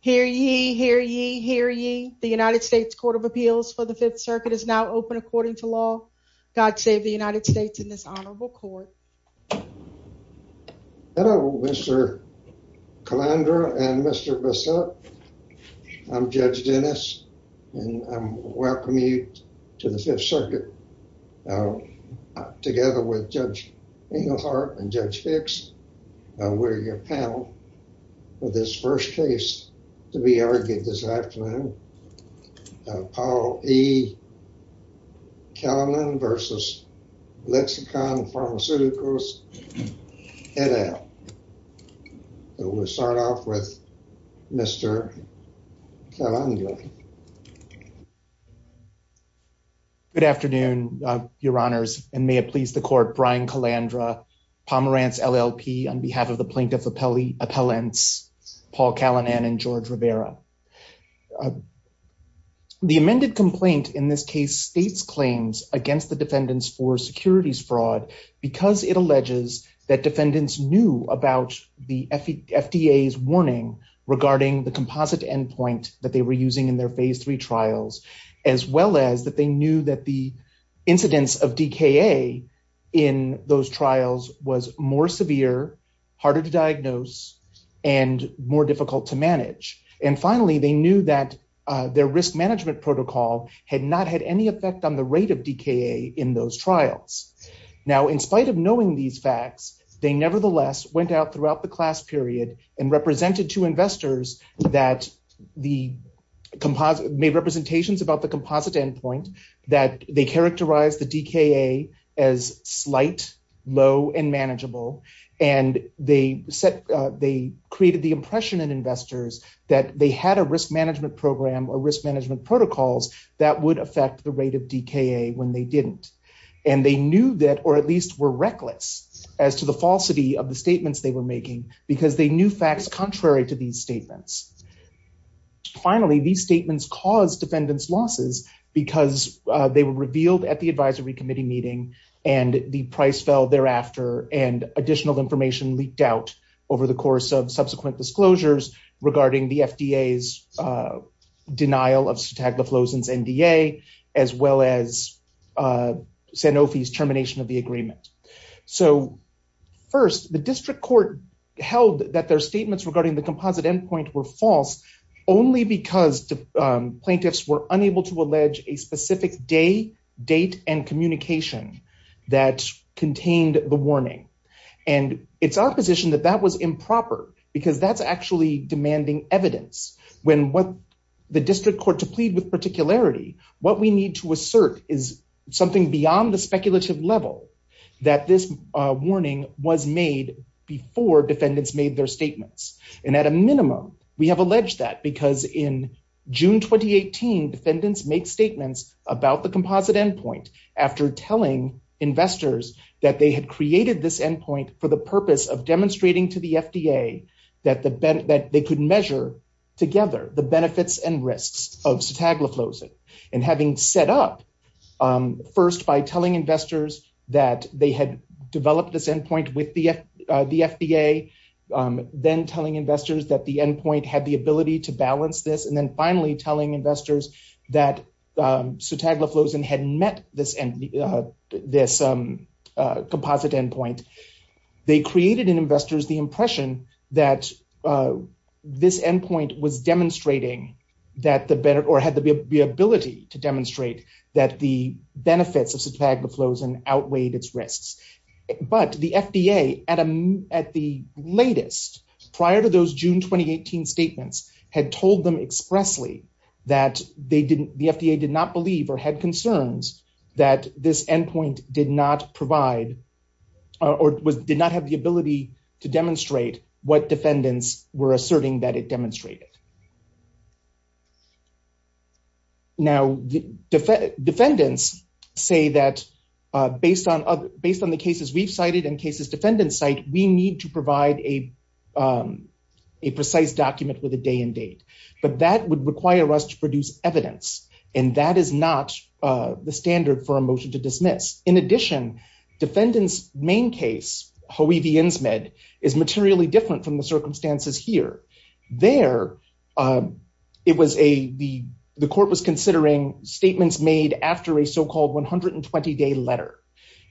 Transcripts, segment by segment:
Hear ye, hear ye, hear ye. The United States Court of Appeals for the Fifth Circuit is now open according to law. God save the United States in this honorable court. Hello Mr. Calandra and Mr. Bissup. I'm Judge Dennis and I'm welcoming you to the Fifth Circuit together with Judge Englehart and Judge Hicks. We're your panel for this first case to be argued this afternoon. Apollo E. Callinan versus Lexicon Pharmaceuticals. So we'll start off with Mr. Calandra. Good afternoon your honors and may it please the court. Brian Calandra, Pomerantz LLP on behalf of the plaintiff appellants Paul Callinan and George Rivera. The amended complaint in this case states claims against the defendants for securities fraud because it alleges that defendants knew about the FDA's warning regarding the composite endpoint that they were using in their phase three trials as well as that they knew that the incidence of DKA in those trials was more severe, harder to diagnose, and more difficult to manage. And finally they knew that their risk management protocol had not had any effect on the rate of DKA in those trials. Now in spite of knowing these facts they nevertheless went out throughout the period and represented to investors that the composite made representations about the composite endpoint that they characterized the DKA as slight, low, and manageable and they set they created the impression in investors that they had a risk management program or risk management protocols that would affect the rate of DKA when they didn't. And they knew that or at least were reckless as to the falsity of the statements they were making because they knew facts contrary to these statements. Finally these statements caused defendants losses because they were revealed at the advisory committee meeting and the price fell thereafter and additional information leaked out over the course of subsequent disclosures regarding the FDA's denial of Sutagliflozin's NDA as well as Sanofi's termination of the agreement. So first the district court held that their statements regarding the composite endpoint were false only because plaintiffs were unable to allege a specific day, date, and communication that contained the warning. And it's opposition that that was improper because that's actually demanding evidence when what the district court plead with particularity what we need to assert is something beyond the speculative level that this warning was made before defendants made their statements. And at a minimum we have alleged that because in June 2018 defendants make statements about the composite endpoint after telling investors that they had created this endpoint for the purpose of demonstrating to the Sutagliflozin. And having set up first by telling investors that they had developed this endpoint with the FDA, then telling investors that the endpoint had the ability to balance this, and then finally telling investors that Sutagliflozin hadn't met this composite endpoint. They created in investors the impression that this endpoint was demonstrating that the better the ability to demonstrate that the benefits of Sutagliflozin outweighed its risks. But the FDA at a at the latest prior to those June 2018 statements had told them expressly that they didn't the FDA did not believe or had concerns that this endpoint did not provide or did not have the ability to demonstrate what defendants were asserting that it demonstrated. Now the defendants say that based on other based on the cases we've cited and cases defendants cite we need to provide a precise document with a day and date. But that would require us to produce evidence and that is not the standard for a motion to dismiss. In addition defendants main case is materially different from the circumstances here. There it was a the court was considering statements made after a so-called 120 day letter.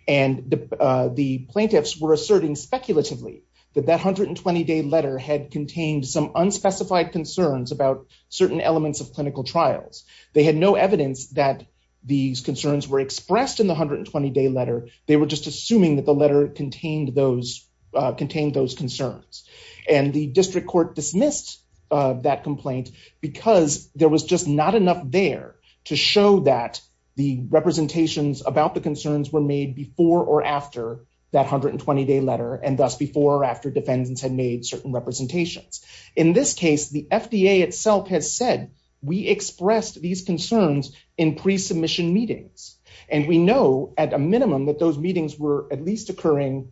And the plaintiffs were asserting speculatively that that 120 day letter had contained some unspecified concerns about certain elements of clinical trials. They had no evidence that these concerns were expressed in the 120 day letter. They were just assuming that the letter contained those concerns. And the district court dismissed that complaint because there was just not enough there to show that the representations about the concerns were made before or after that 120 day letter and thus before or after defendants had made certain representations. In this case the FDA itself has said we expressed these concerns in pre-submission meetings. And we know at a minimum that those meetings were at least occurring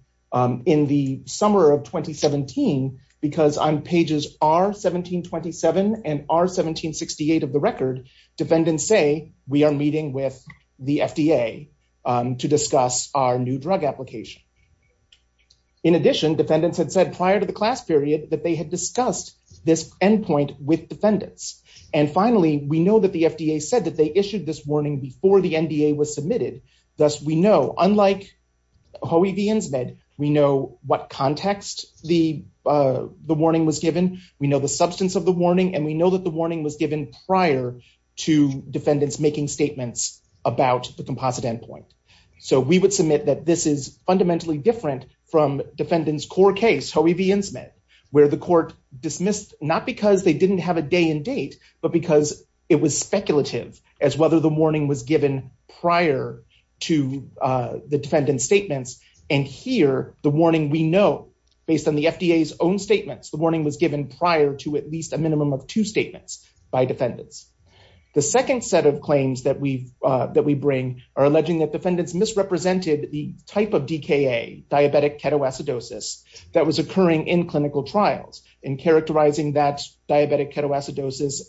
in the summer of 2017 because on pages R1727 and R1768 of the record defendants say we are meeting with the FDA to discuss our new drug application. In addition defendants had said prior to the class period that they had discussed this endpoint with defendants. And finally we know that the FDA said that they issued this warning before the NDA was submitted. Thus we know unlike HOE v. INSMED we know what context the warning was given. We know the substance of the warning and we know that the warning was given prior to defendants making statements about the composite endpoint. So we would submit that this is fundamentally different from defendant's core case HOE v. INSMED where the court dismissed not because they didn't have a day and date but because it was speculative as whether the warning was given prior to the defendant's statements. And here the warning we know based on the FDA's own statements the warning was given prior to at least a minimum of two statements by defendants. The second set of claims that we bring are alleging that defendants misrepresented the type of DKA diabetic ketoacidosis that was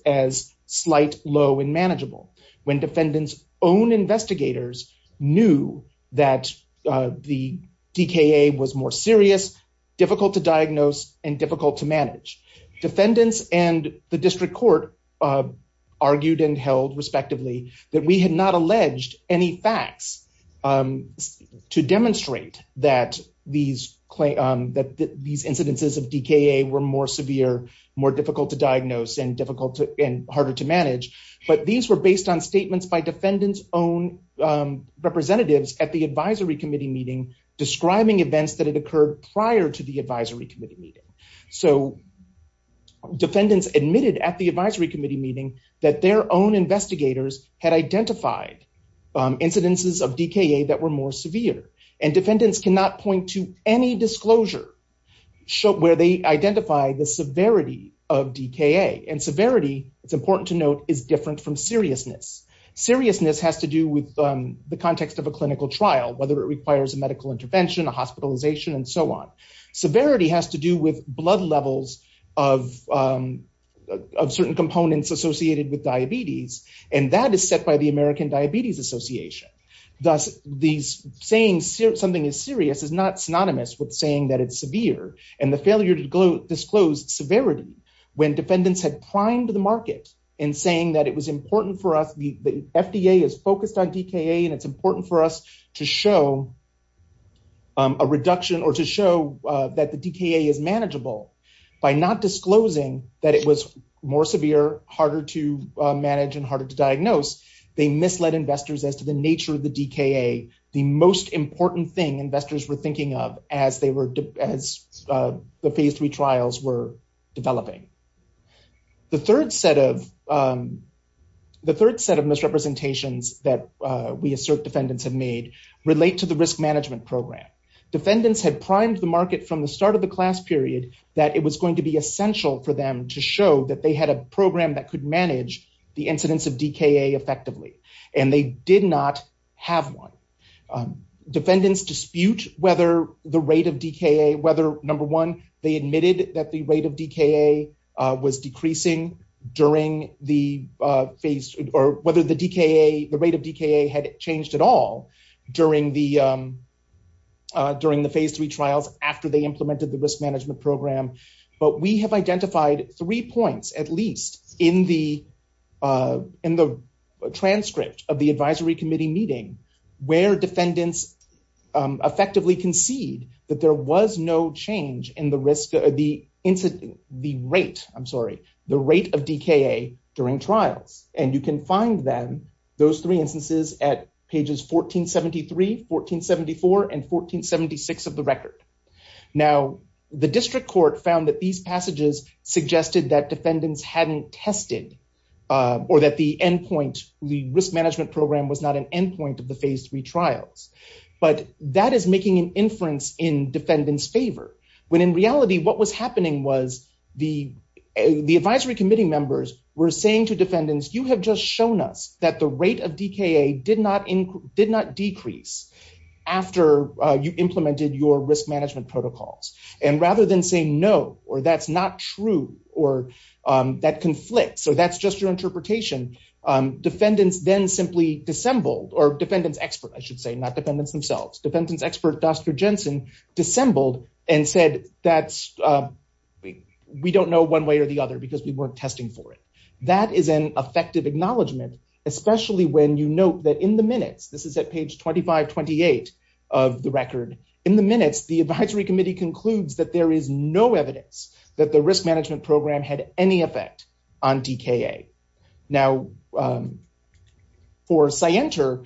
as slight low and manageable when defendants own investigators knew that the DKA was more serious, difficult to diagnose, and difficult to manage. Defendants and the district court argued and held respectively that we had not alleged any facts to demonstrate that these incidences of DKA were more severe, more difficult to diagnose, and difficult to and harder to manage. But these were based on statements by defendants own representatives at the advisory committee meeting describing events that had occurred prior to the advisory committee meeting. So defendants admitted at the advisory committee meeting that their own investigators had identified incidences of DKA that were more severe and defendants cannot point to any disclosure where they identify the severity of DKA. And severity, it's important to note, is different from seriousness. Seriousness has to do with the context of a clinical trial, whether it requires a medical intervention, a hospitalization, and so on. Severity has to do with blood levels of certain components associated with diabetes, and that is set by the American saying that it's severe and the failure to disclose severity when defendants had primed the market in saying that it was important for us, the FDA is focused on DKA and it's important for us to show a reduction or to show that the DKA is manageable by not disclosing that it was more severe, harder to manage, and harder to diagnose. They misled investors as to the nature of the DKA, the most important thing investors were thinking of as they were, as the phase three trials were developing. The third set of misrepresentations that we assert defendants have made relate to the risk management program. Defendants had primed the market from the start of the class period that it was going to be essential for them to show that they had a program that could manage the incidence of DKA effectively, and they did not have one. Defendants dispute whether the rate of DKA, whether number one, they admitted that the rate of DKA was decreasing during the phase, or whether the DKA, the rate of DKA had changed at all during the, during the phase three trials after they implemented the risk management program. But we have identified three points, at least, in the, in the transcript of the advisory committee meeting where defendants effectively concede that there was no change in the risk, the rate, I'm sorry, the rate of DKA during trials. And you can find them, those three instances at pages 1473, 1474, and 1476 of the test. Or that the endpoint, the risk management program was not an endpoint of the phase three trials. But that is making an inference in defendants favor. When in reality, what was happening was the, the advisory committee members were saying to defendants, you have just shown us that the rate of DKA did not increase, did not decrease after you implemented your risk management protocols. And rather than saying no, or that's not true, or that conflict, so that's just your interpretation, defendants then simply dissembled, or defendants expert, I should say, not defendants themselves, defendants expert, Dr. Jensen, dissembled and said, that's, we don't know one way or the other because we weren't testing for it. That is an effective acknowledgement, especially when you note that in the minutes, this is at page 2528 of the record, in the minutes, the advisory committee concludes that there is no evidence that the risk management program had any effect on DKA. Now, for Scienter,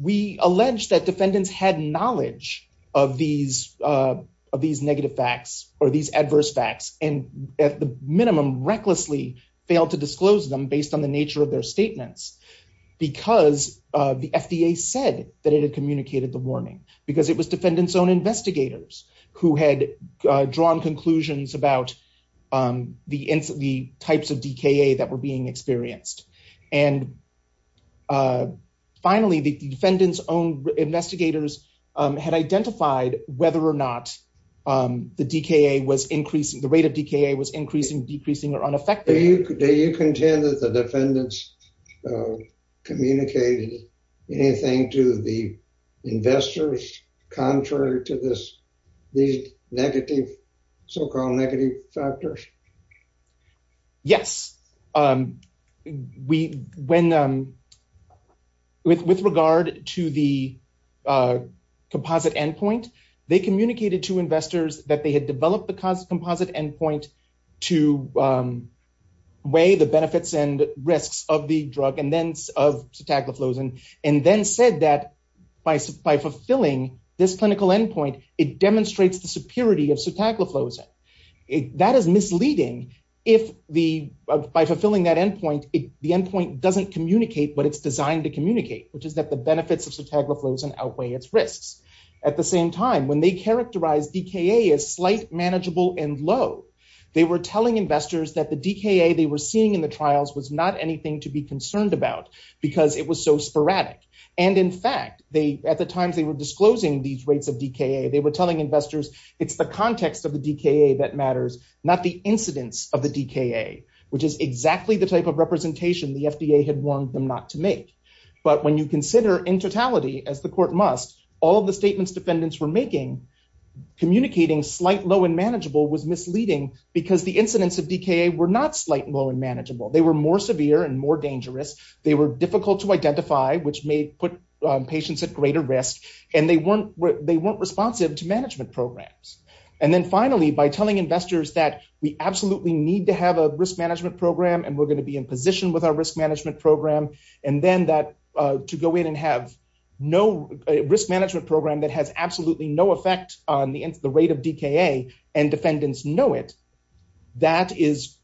we allege that defendants had knowledge of these, of these negative facts, or these adverse facts, and at the minimum, recklessly failed to disclose them based on the nature of their statements, because the FDA said that it had communicated the warning, because it was defendants' own investigators who had drawn conclusions about the types of DKA that were being experienced. And finally, the defendants' own investigators had identified whether or not the DKA was increasing, the rate of DKA was increasing, decreasing, or unaffected. Do you contend that the defendants communicated anything to the investors contrary to this, these negative, so-called negative factors? Yes. We, when, with regard to the composite endpoint, they communicated to investors that they had developed the composite endpoint to weigh the benefits and risks of the drug and then of cetagliflozin, and then said that by fulfilling this clinical endpoint, it demonstrates the superiority of cetagliflozin. That is misleading if the, by fulfilling that endpoint, the endpoint doesn't communicate what it's designed to communicate, which is that the benefits of cetagliflozin outweigh its risks. At the same time, when they characterized DKA as slight, manageable, and low, they were telling investors that the DKA they were seeing in the trials was not anything to be concerned about because it was so sporadic. And in fact, they, at the times they were disclosing these rates of DKA, they were telling investors, it's the context of the DKA that matters, not the incidence of the DKA, which is exactly the type of representation the FDA had warned them not to make. But when you consider in totality, as the court must, all of the statements defendants were making, communicating slight, low, and manageable was misleading because the and more dangerous. They were difficult to identify, which may put patients at greater risk, and they weren't, they weren't responsive to management programs. And then finally, by telling investors that we absolutely need to have a risk management program, and we're going to be in position with our risk management program, and then that to go in and have no risk management program that has absolutely no effect on the rate of DKA, and defendants know it, that is,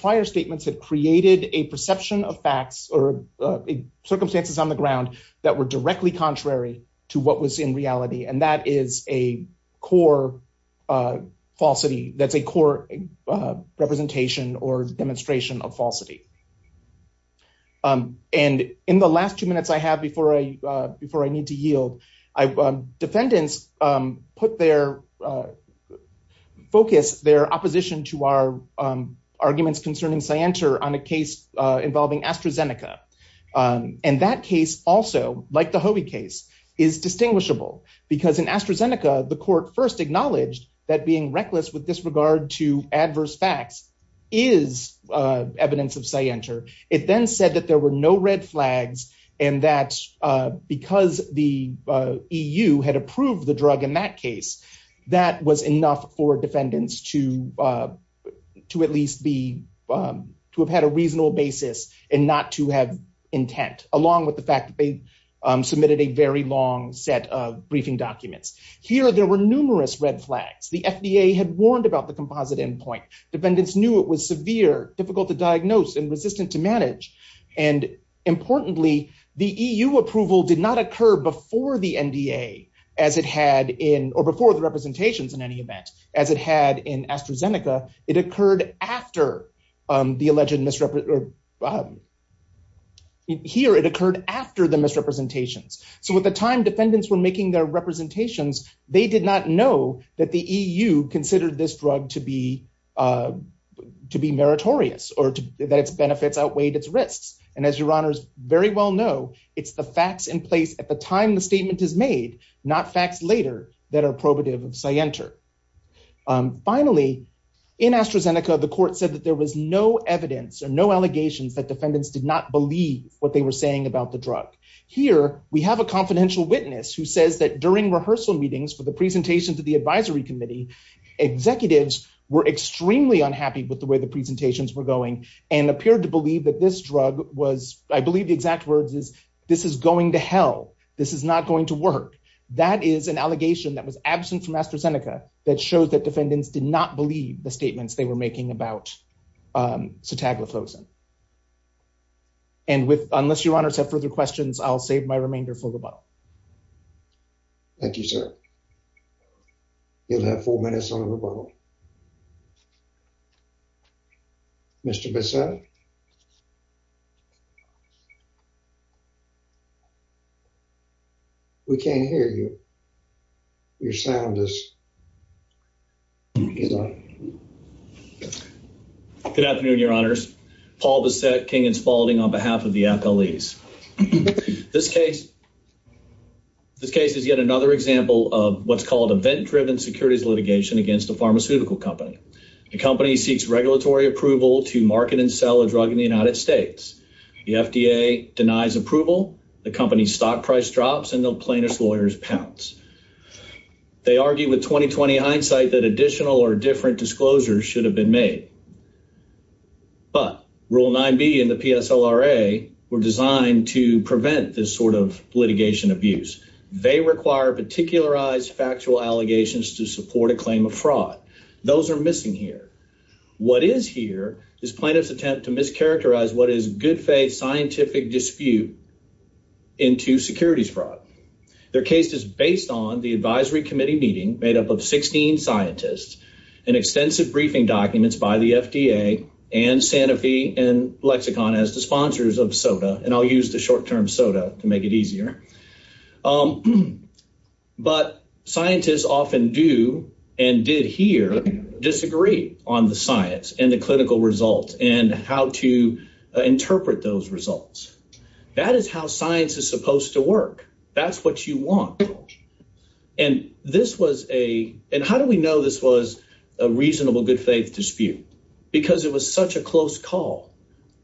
prior statements had created a perception of facts or circumstances on the ground that were directly contrary to what was in reality. And that is a core falsity, that's a core representation or demonstration of falsity. And in the last two minutes I have before I, before I need to yield, defendants put their focus, their opposition to our arguments concerning Cyanter on a case involving AstraZeneca. And that case also, like the Hobie case, is distinguishable because in AstraZeneca, the court first acknowledged that being reckless with disregard to adverse facts is evidence of Cyanter. It then said that there were no red flags, and that because the EU had approved the drug in that case, that was enough for defendants to at least be, to have had a reasonable basis and not to have intent, along with the fact that they submitted a very long set of briefing documents. Here, there were numerous red flags. The FDA had warned about the composite endpoint. Defendants knew it was severe, difficult to diagnose, and resistant to manage. And importantly, the EU approval did not occur before the NDA as it had in, or before the representations in any event, as it had in AstraZeneca. It occurred after the alleged misrep, here it occurred after the misrepresentations. So at the time defendants were making their to be meritorious, or that its benefits outweighed its risks. And as your honors very well know, it's the facts in place at the time the statement is made, not facts later that are probative of Cyanter. Finally, in AstraZeneca, the court said that there was no evidence or no allegations that defendants did not believe what they were saying about the drug. Here, we have a confidential witness who says that during rehearsal meetings for the presentation to the advisory committee, executives were extremely unhappy with the way the presentations were going and appeared to believe that this drug was, I believe the exact words is, this is going to hell. This is not going to work. That is an allegation that was absent from AstraZeneca that shows that defendants did not believe the statements they were making about cetaglifosin. And with, unless your honors have further questions, I'll save my remainder for rebuttal. Thank you, sir. You'll have four minutes on rebuttal. Mr. Bissett. We can't hear you. Your sound is... Good afternoon, your honors. Paul Bissett, King & Spalding on behalf of the accolades. This case is yet another example of what's called event-driven securities litigation against a pharmaceutical company. The company seeks regulatory approval to market and sell a drug in the United States. The FDA denies approval, the company's stock price drops, and the plaintiff's lawyers pounce. They argue with 20-20 hindsight that additional or different disclosures should have been made. But Rule 9B and the PSLRA were designed to prevent this sort of litigation abuse. They require particularized factual allegations to support a claim of fraud. Those are missing here. What is here is plaintiff's attempt to mischaracterize what is good faith scientific dispute into securities fraud. Their case is based on the advisory committee meeting made up of 16 scientists and extensive briefing documents by the FDA and Sanofi and Lexicon as the sponsors of SOTA. And I'll use the short-term SOTA to make it easier. But scientists often do and did here disagree on the science and the clinical results and how to interpret those results. That is how science is supposed to work. That's what you want. And how do we know this was a reasonable good faith dispute? Because it was such a close call.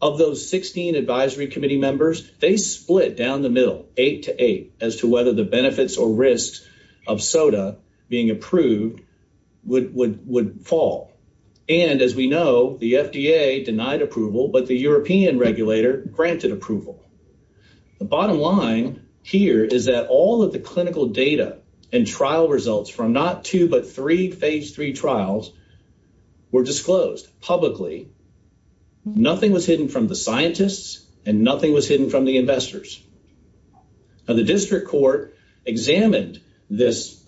Of those 16 advisory committee members, they split down the middle, eight to eight, as to whether the benefits or risks of SOTA being approved would fall. And as we know, the FDA denied approval, but the European regulator granted approval. The bottom line here is that all of the clinical data and trial results from not two, but three phase three trials were disclosed publicly. Nothing was hidden from the scientists and nothing was hidden from the investors. The district court examined this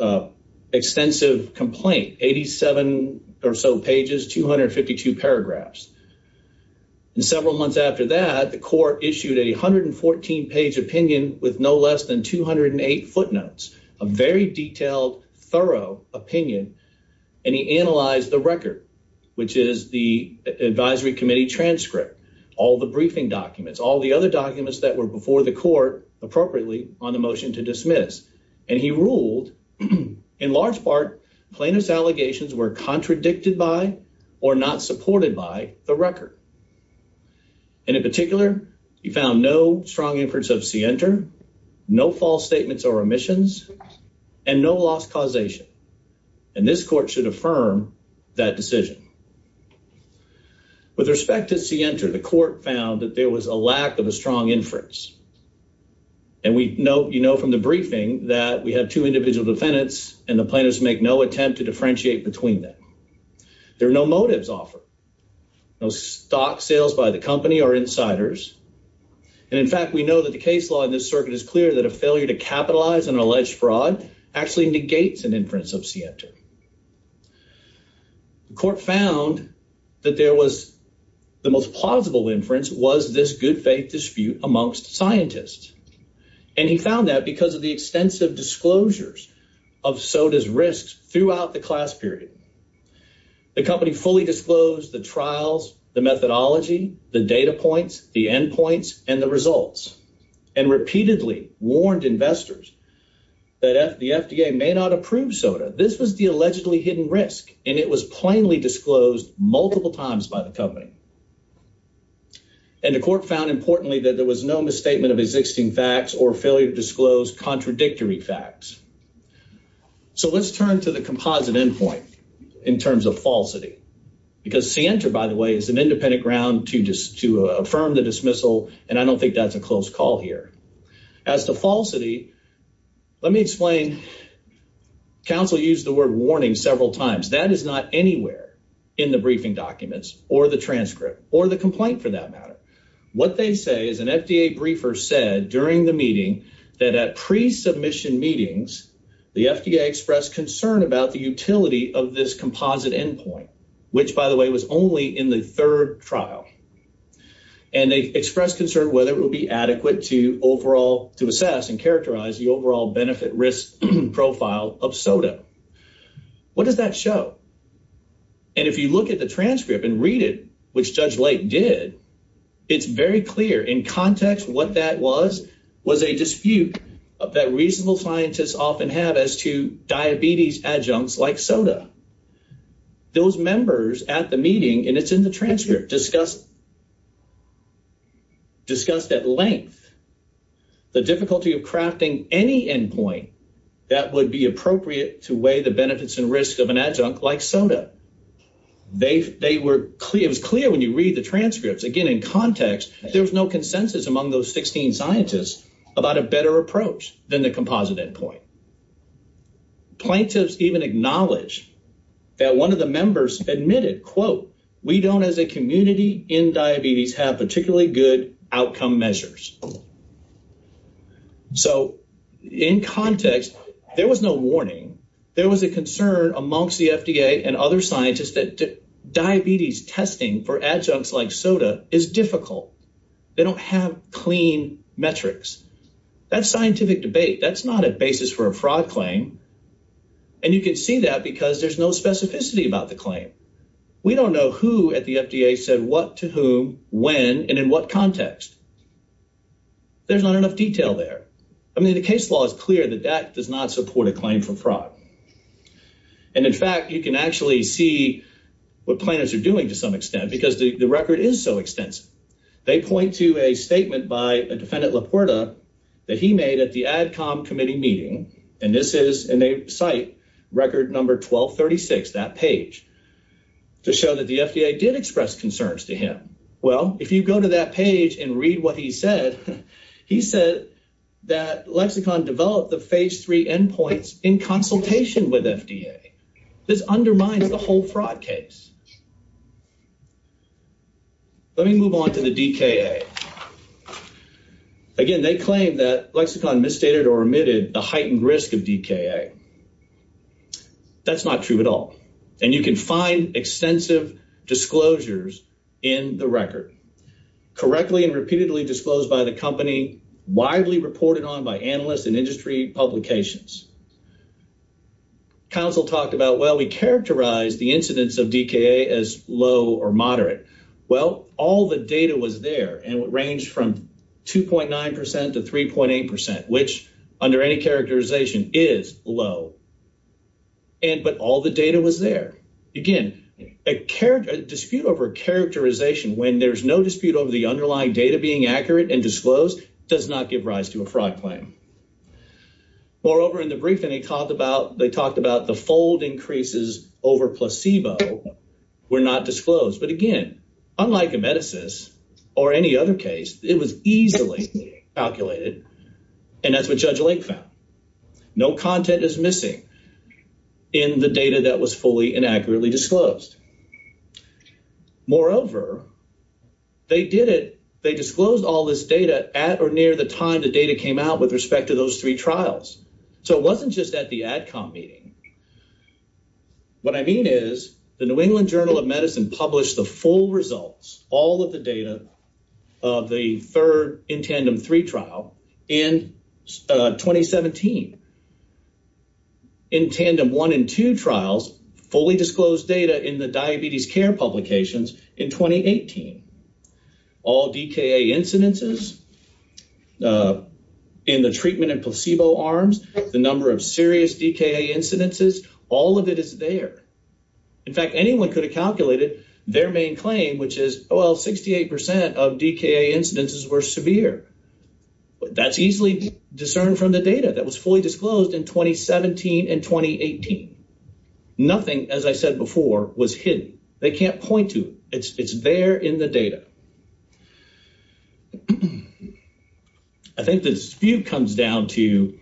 extensive complaint, 87 or so pages, 252 paragraphs. Several months after that, the court issued a 114 page opinion with no less than 208 footnotes, a very detailed, thorough opinion. And he analyzed the record, which is the advisory committee transcript, all the briefing documents, all the other documents that were before the court appropriately on the motion to dismiss. And he ruled in large part, plaintiff's allegations were contradicted by, or not supported by, the record. And in particular, he found no strong inference of CENTER, no false statements or omissions, and no loss causation. And this court should affirm that decision. With respect to CENTER, the court found that there was a lack of a strong inference. And we know, you know, from the briefing that we have two individual defendants and the plaintiffs make no attempt to differentiate between them. There are no motives offered, no stock sales by the company or insiders. And in fact, we know that the case law in this circuit is clear that a failure to capitalize on an alleged fraud actually negates an inference of CENTER. The court found that there was the most plausible inference was this good faith dispute amongst scientists. And he found that because of the extensive disclosures of SOTA's risks throughout the class period, the company fully disclosed the trials, the methodology, the data points, the end points, and the results, and repeatedly warned investors that the FDA may not approve SOTA. This was the allegedly hidden risk, and it was plainly disclosed multiple times by the company. And the court found, importantly, that there was no misstatement of existing facts or failure to disclose contradictory facts. So let's turn to the composite end point in terms of falsity. Because CENTER, by the way, is an independent ground to just to affirm the dismissal, and I don't think that's a close call here. As to falsity, let me explain. Counsel used the word warning several times. That is not anywhere in the briefing documents, or the transcript, or the complaint for that matter. What they say is an FDA briefer said during the meeting that at pre-submission meetings, the FDA expressed concern about the utility of this composite end point, which, by the way, was only in the third trial. And they expressed concern whether it will be adequate to assess and characterize the overall benefit-risk profile of SOTA. What does that show? And if you look at the transcript and read it, which Judge Lake did, it's very clear in context what that was, was a dispute that reasonable scientists often have as to diabetes adjuncts like SOTA. Those members at the meeting, and it's in the transcript, discussed at length the difficulty of crafting any end point that would be appropriate to weigh the benefits and risks of an adjunct like SOTA. It was clear when you read the transcripts, again, in context, there was no consensus among those 16 scientists about a better approach than the composite end point. Plaintiffs even acknowledge that one of the members admitted, we don't as a community in diabetes have particularly good outcome measures. So, in context, there was no warning. There was a concern amongst the FDA and other scientists that diabetes testing for adjuncts like SOTA is difficult. They don't have clean metrics. That's scientific debate. That's not a basis for a fraud claim. And you can see that because there's no specificity about the claim. We don't know who at the FDA said what to whom, when, and in what context. There's not enough detail there. I mean, the case law is clear that that does not support a claim for fraud. And in fact, you can actually see what plaintiffs are doing to some extent because the record is so extensive. They point to a statement by a defendant Laporta that he made at the ADCOMM committee meeting. And this is, and they cite record number 1236, that page, to show that the FDA did express concerns to him. Well, if you go to that page and read what he said, he said that Lexicon developed the phase three end points in consultation with FDA. This undermines the whole fraud case. Let me move on to the DKA. Again, they claim that Lexicon misstated or omitted the heightened risk of DKA. That's not true at all. And you can find extensive disclosures in the record, correctly and repeatedly disclosed by the company, widely reported on by analysts and industry publications. Council talked about, well, we characterize the incidence of DKA as low or moderate. Well, all the data was there, and it ranged from 2.9% to 3.8%, which under any characterization is low. And, but all the data was there. Again, a dispute over characterization when there's no dispute over the underlying data being accurate and disclosed does not give rise to a fraud claim. Moreover, in the briefing, he talked about, they talked about the fold increases over placebo were not disclosed. But again, unlike a medicines or any other case, it was easily calculated. And that's what Judge Lake found. No content is missing in the data that was fully and accurately disclosed. Moreover, they did it. They disclosed all this data at or near the time the data came out with respect to those three trials. So it wasn't just at the ADCOM meeting. What I mean is the New England Journal of Medicine published the full results, all of the data of the third in tandem three trial in 2017. In tandem one and two trials, fully disclosed data in the diabetes care publications in 2018. All DKA incidences in the treatment and placebo arms, the number of serious DKA incidences, all of it is there. In fact, anyone could have calculated their main claim, which is, well, 68% of DKA incidences were severe, but that's easily discerned from the data that was fully disclosed in 2017 and 2018. Nothing, as I said before, was hidden. They can't point to it. It's there in the data. I think the dispute comes down to,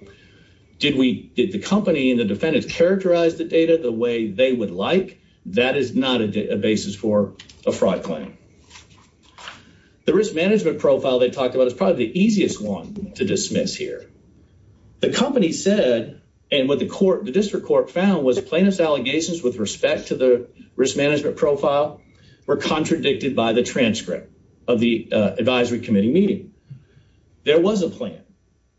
did we, did the company and the defendants characterize the data the way they would like? That is not a basis for a fraud claim. The risk management profile they talked about is probably the easiest one to dismiss here. The company said, and what the court, the district court found was plaintiff's allegations with respect to the risk management profile were contradicted by the transcript of the advisory committee meeting. There was a plan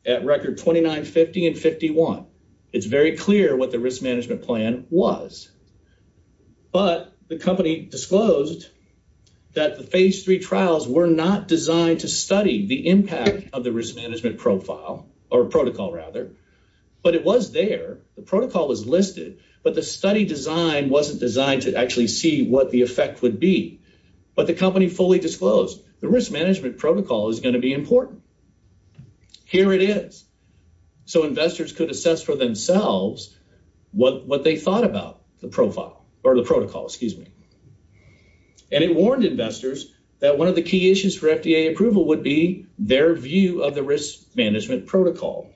at record 2950 and 51. It's very clear what the risk management plan was, but the company disclosed that the phase three trials were not designed to study the impact of the risk management profile or protocol rather, but it was there. The protocol was listed, but the study design wasn't designed to actually see what the effect would be, but the company fully disclosed the risk management protocol is going to be important. Here it is. Investors could assess for themselves what they thought about the profile or the protocol, excuse me. It warned investors that one of the key issues for FDA approval would be their view of the risk management protocol.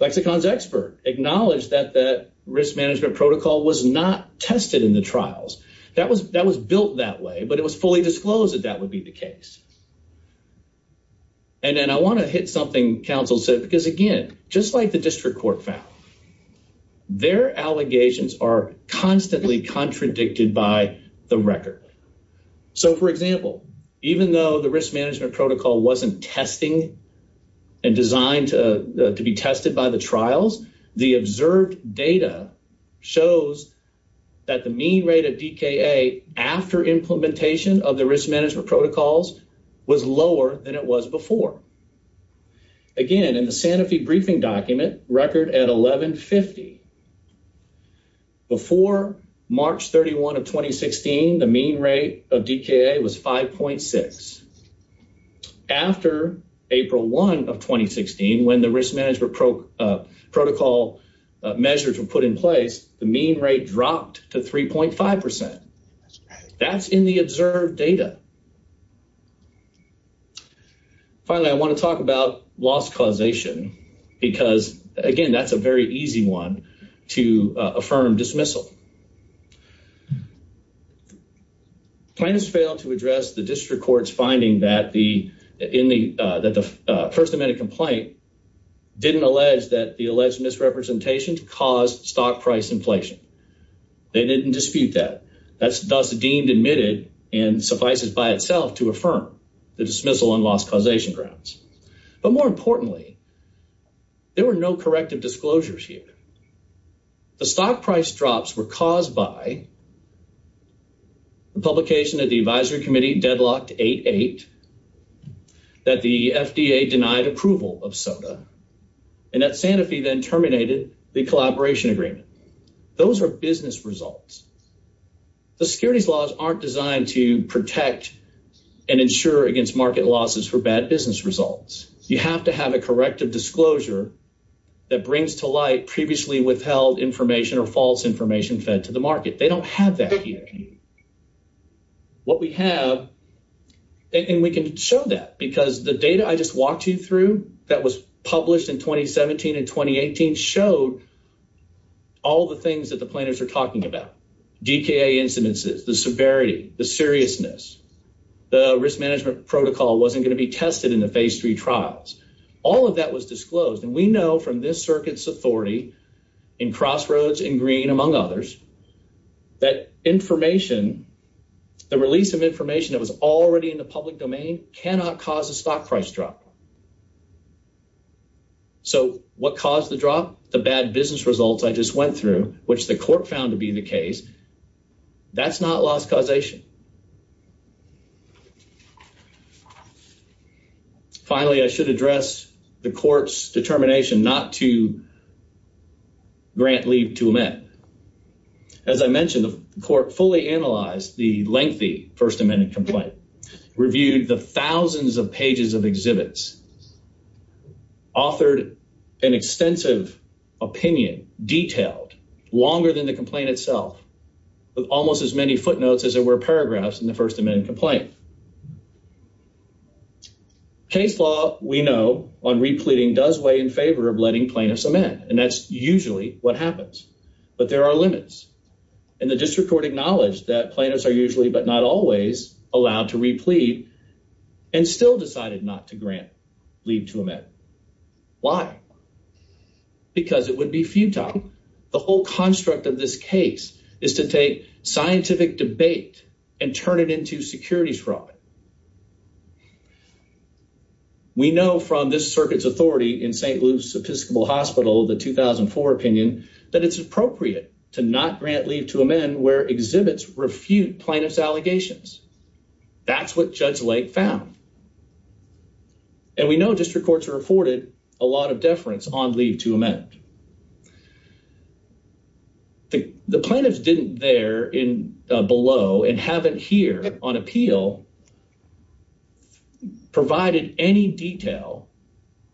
Flexicon's expert acknowledged that that risk management protocol was not tested in the trials. That was built that way, but it was fully disclosed that that would be the case. Then I want to hit something counsel said, because again, just like the district court found, their allegations are constantly contradicted by the record. For example, even though the risk management protocol wasn't testing and designed to be tested by the trials, the observed data shows that the mean rate of D. K. A. After implementation of the risk management protocols was lower than it was before. Again, in the Santa Fe briefing document record at 11 50 before March 31 of 2016, the mean rate of D. K. A. Was 5.6 after April 1 of 2016 when the risk management protocol measures were put in place, the mean rate dropped to 3.5%. That's in the observed data. Finally, I want to talk about loss causation because again, that's a very easy one. To affirm dismissal. Plaintiffs failed to address the district court's finding that the first amendment complaint didn't allege that the alleged misrepresentation caused stock price inflation. They didn't dispute that. That's thus deemed admitted and suffices by itself to affirm the dismissal and loss causation grounds. But more importantly, there were no corrective disclosures here. The stock price drops were caused by the publication of the advisory committee deadlocked 88 that the FDA denied approval of soda and that Santa Fe then terminated the collaboration agreement. Those are business results. The securities laws aren't designed to protect and ensure against market losses for bad business results. You have to have a corrective disclosure that brings to light previously withheld information or false information fed to the market. They don't have that here. What we have and we can show that because the data I just walked you through that was published in 2017 and 2018 showed all the things that the planners are talking about. D. K. A. Incidences, the severity, the seriousness, the risk management protocol wasn't going to be tested in the face three trials. All of that was disclosed, and we know from this circuit's authority in crossroads in green among others that information, the release of information that was already in the public domain cannot cause a stock price drop. So what caused the drop? The bad business results I just went through, which the court found to be the case, that's not loss causation. Finally, I should address the court's determination not to grant leave to amend. As I mentioned, the court fully analyzed the lengthy First Amendment complaint, reviewed the thousands of pages of exhibits, authored an extensive opinion, detailed, longer than the complaint itself, with almost as many footnotes as there were paragraphs in the First Amendment complaint. Case law, we know, on repleting does weigh in favor of letting plaintiffs amend, and that's usually what happens. But there are limits, and the district court acknowledged that plaintiffs are usually, but not always, allowed to replete and still decided not to grant. Leave to amend. Why? Because it would be futile. The whole construct of this case is to take scientific debate and turn it into securities fraud. We know from this circuit's authority in St. Luke's Episcopal Hospital, the 2004 opinion, that it's appropriate to not grant leave to amend where exhibits refute plaintiff's allegations. That's what Judge Lake found. And we know district courts are afforded a lot of deference on leave to amend. The plaintiffs didn't there below and haven't here on appeal provided any detail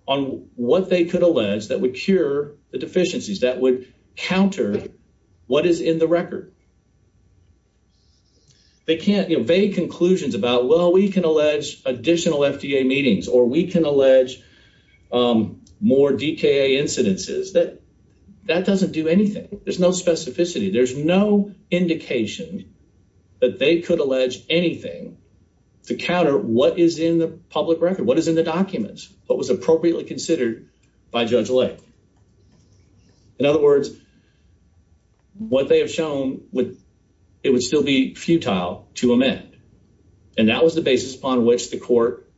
on what they could allege that would cure the deficiencies, that would counter what is in the record. They can't make conclusions about, well, we can allege additional FDA meetings, or we can allege more DKA incidences. That doesn't do anything. There's no specificity. There's no indication that they could allege anything to counter what is in the public record, what is in the documents, what was appropriately considered by Judge Lake. In other words, what they have shown, it would still be futile to amend. And that was the basis upon which the court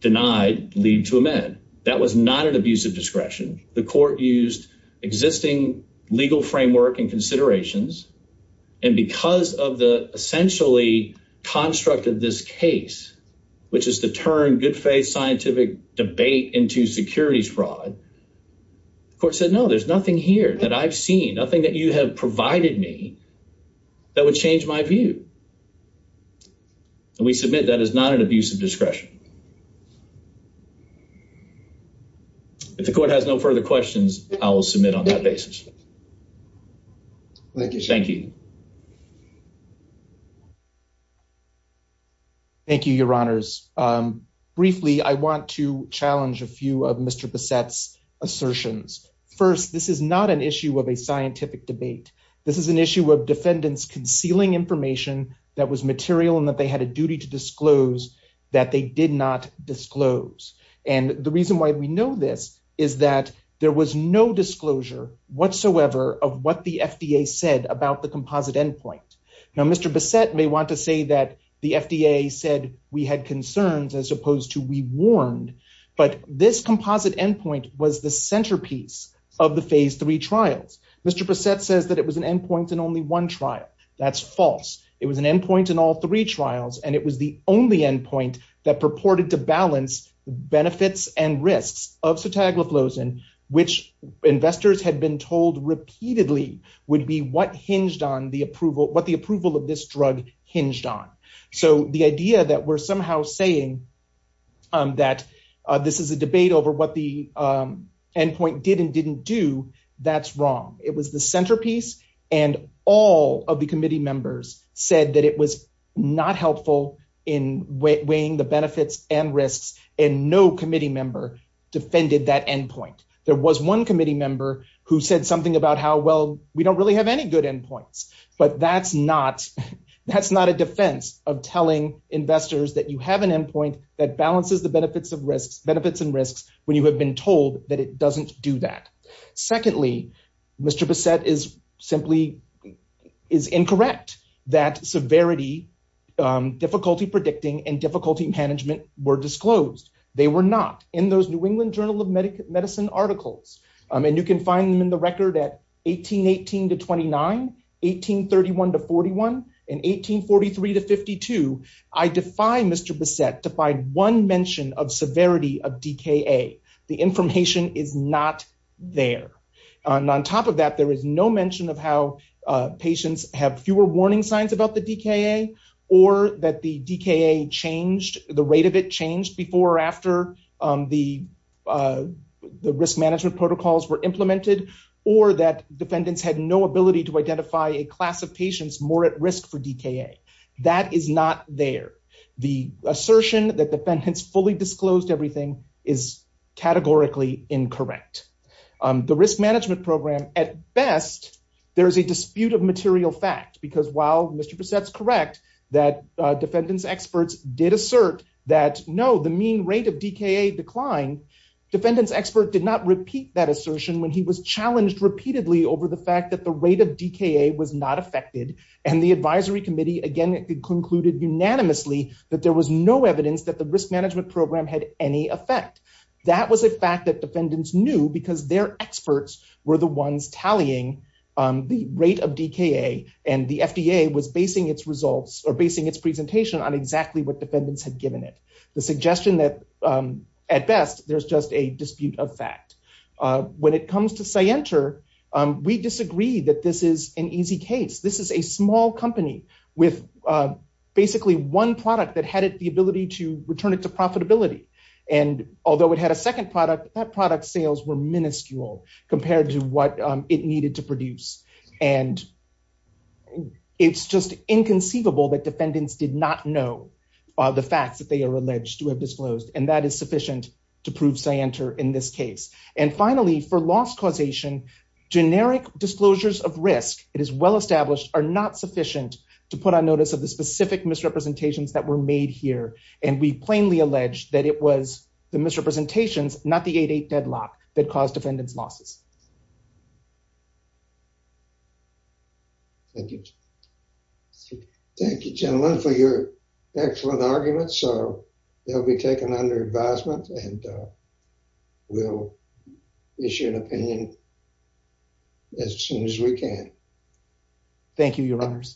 denied leave to amend. That was not an abuse of discretion. The court used existing legal framework and considerations. And because of the essentially construct of this case, which is to turn good faith scientific debate into securities fraud, the court said, no, there's nothing here that I've seen, nothing that you have provided me that would change my view. And we submit that is not an abuse of discretion. If the court has no further questions, I will submit on that basis. Thank you. Thank you, your honors. Briefly, I want to challenge a few of Mr. Bassett's assertions. First, this is not an issue of a scientific debate. This is an issue of defendants concealing information that was material and that they had a duty to disclose that they did not disclose. And the reason why we know this is that there was no disclosure whatsoever of what the FDA said about the composite endpoint. Now, Mr. Bassett may want to say that the FDA said we had concerns as opposed to we warned. But this composite endpoint was the centerpiece of the phase three trials. Mr. Bassett says that it was an endpoint in only one trial. That's false. It was an endpoint in all three trials. And it was the only endpoint that purported to balance the benefits and risks of sotagliflozin, which investors had been told repeatedly would be what the approval of this drug hinged on. So the idea that we're somehow saying that this is a debate over what the endpoint did and didn't do, that's wrong. It was the centerpiece. And all of the committee members said that it was not helpful in weighing the benefits and risks, and no committee member defended that endpoint. There was one committee member who said something about how, well, we don't really have any good endpoints. But that's not a defense of telling investors that you have an endpoint that balances the benefits and risks when you have been told that it doesn't do that. Secondly, Mr. Bassett is incorrect that severity, difficulty predicting, and difficulty management were disclosed. They were not. In those New England Journal of Medicine articles, and you can find them in the record at 1818 to 29, 1831 to 41, and 1843 to 52, I defy Mr. Bassett to find one mention of severity of DKA. The information is not there. And on top of that, there is no mention of how patients have fewer warning signs about the DKA, or that the rate of it changed before or after the risk management protocols were implemented, or that defendants had no ability to identify a class of patients more at risk for DKA. That is not there. The assertion that defendants fully disclosed everything is categorically incorrect. The risk management program, at best, there is a dispute of material fact, because while Mr. Bassett's correct that defendants experts did assert that, no, the mean rate of DKA declined, defendants expert did not repeat that assertion when he was challenged repeatedly over the fact that the rate of DKA was not affected, and the advisory committee again concluded unanimously that there was no evidence that the risk management program had any effect. That was a fact that defendants knew because their experts were the ones tallying the rate of DKA, and the FDA was basing its results, or basing its presentation on exactly what defendants had given it. The suggestion that, at best, there's just a dispute of fact. When it comes to CYENTR, we disagree that this is an easy case. This is a small company with basically one product that had the ability to return it to profitability, and although it had a second product, that product's sales were minuscule compared to what it needed to produce, and it's just inconceivable that defendants did not know the facts that they are alleged to have disclosed, and that is sufficient to prove CYENTR in this case. And finally, for loss causation, generic disclosures of risk, it is well established, are not sufficient to put on notice of the specific misrepresentations that were made here, and we plainly allege that it was the misrepresentations, not the 8-8 deadlock, that caused defendants' losses. Thank you. Thank you, gentlemen, for your excellent arguments. They'll be taken under advisement, and we'll issue an opinion as soon as we can. Thank you, your honors.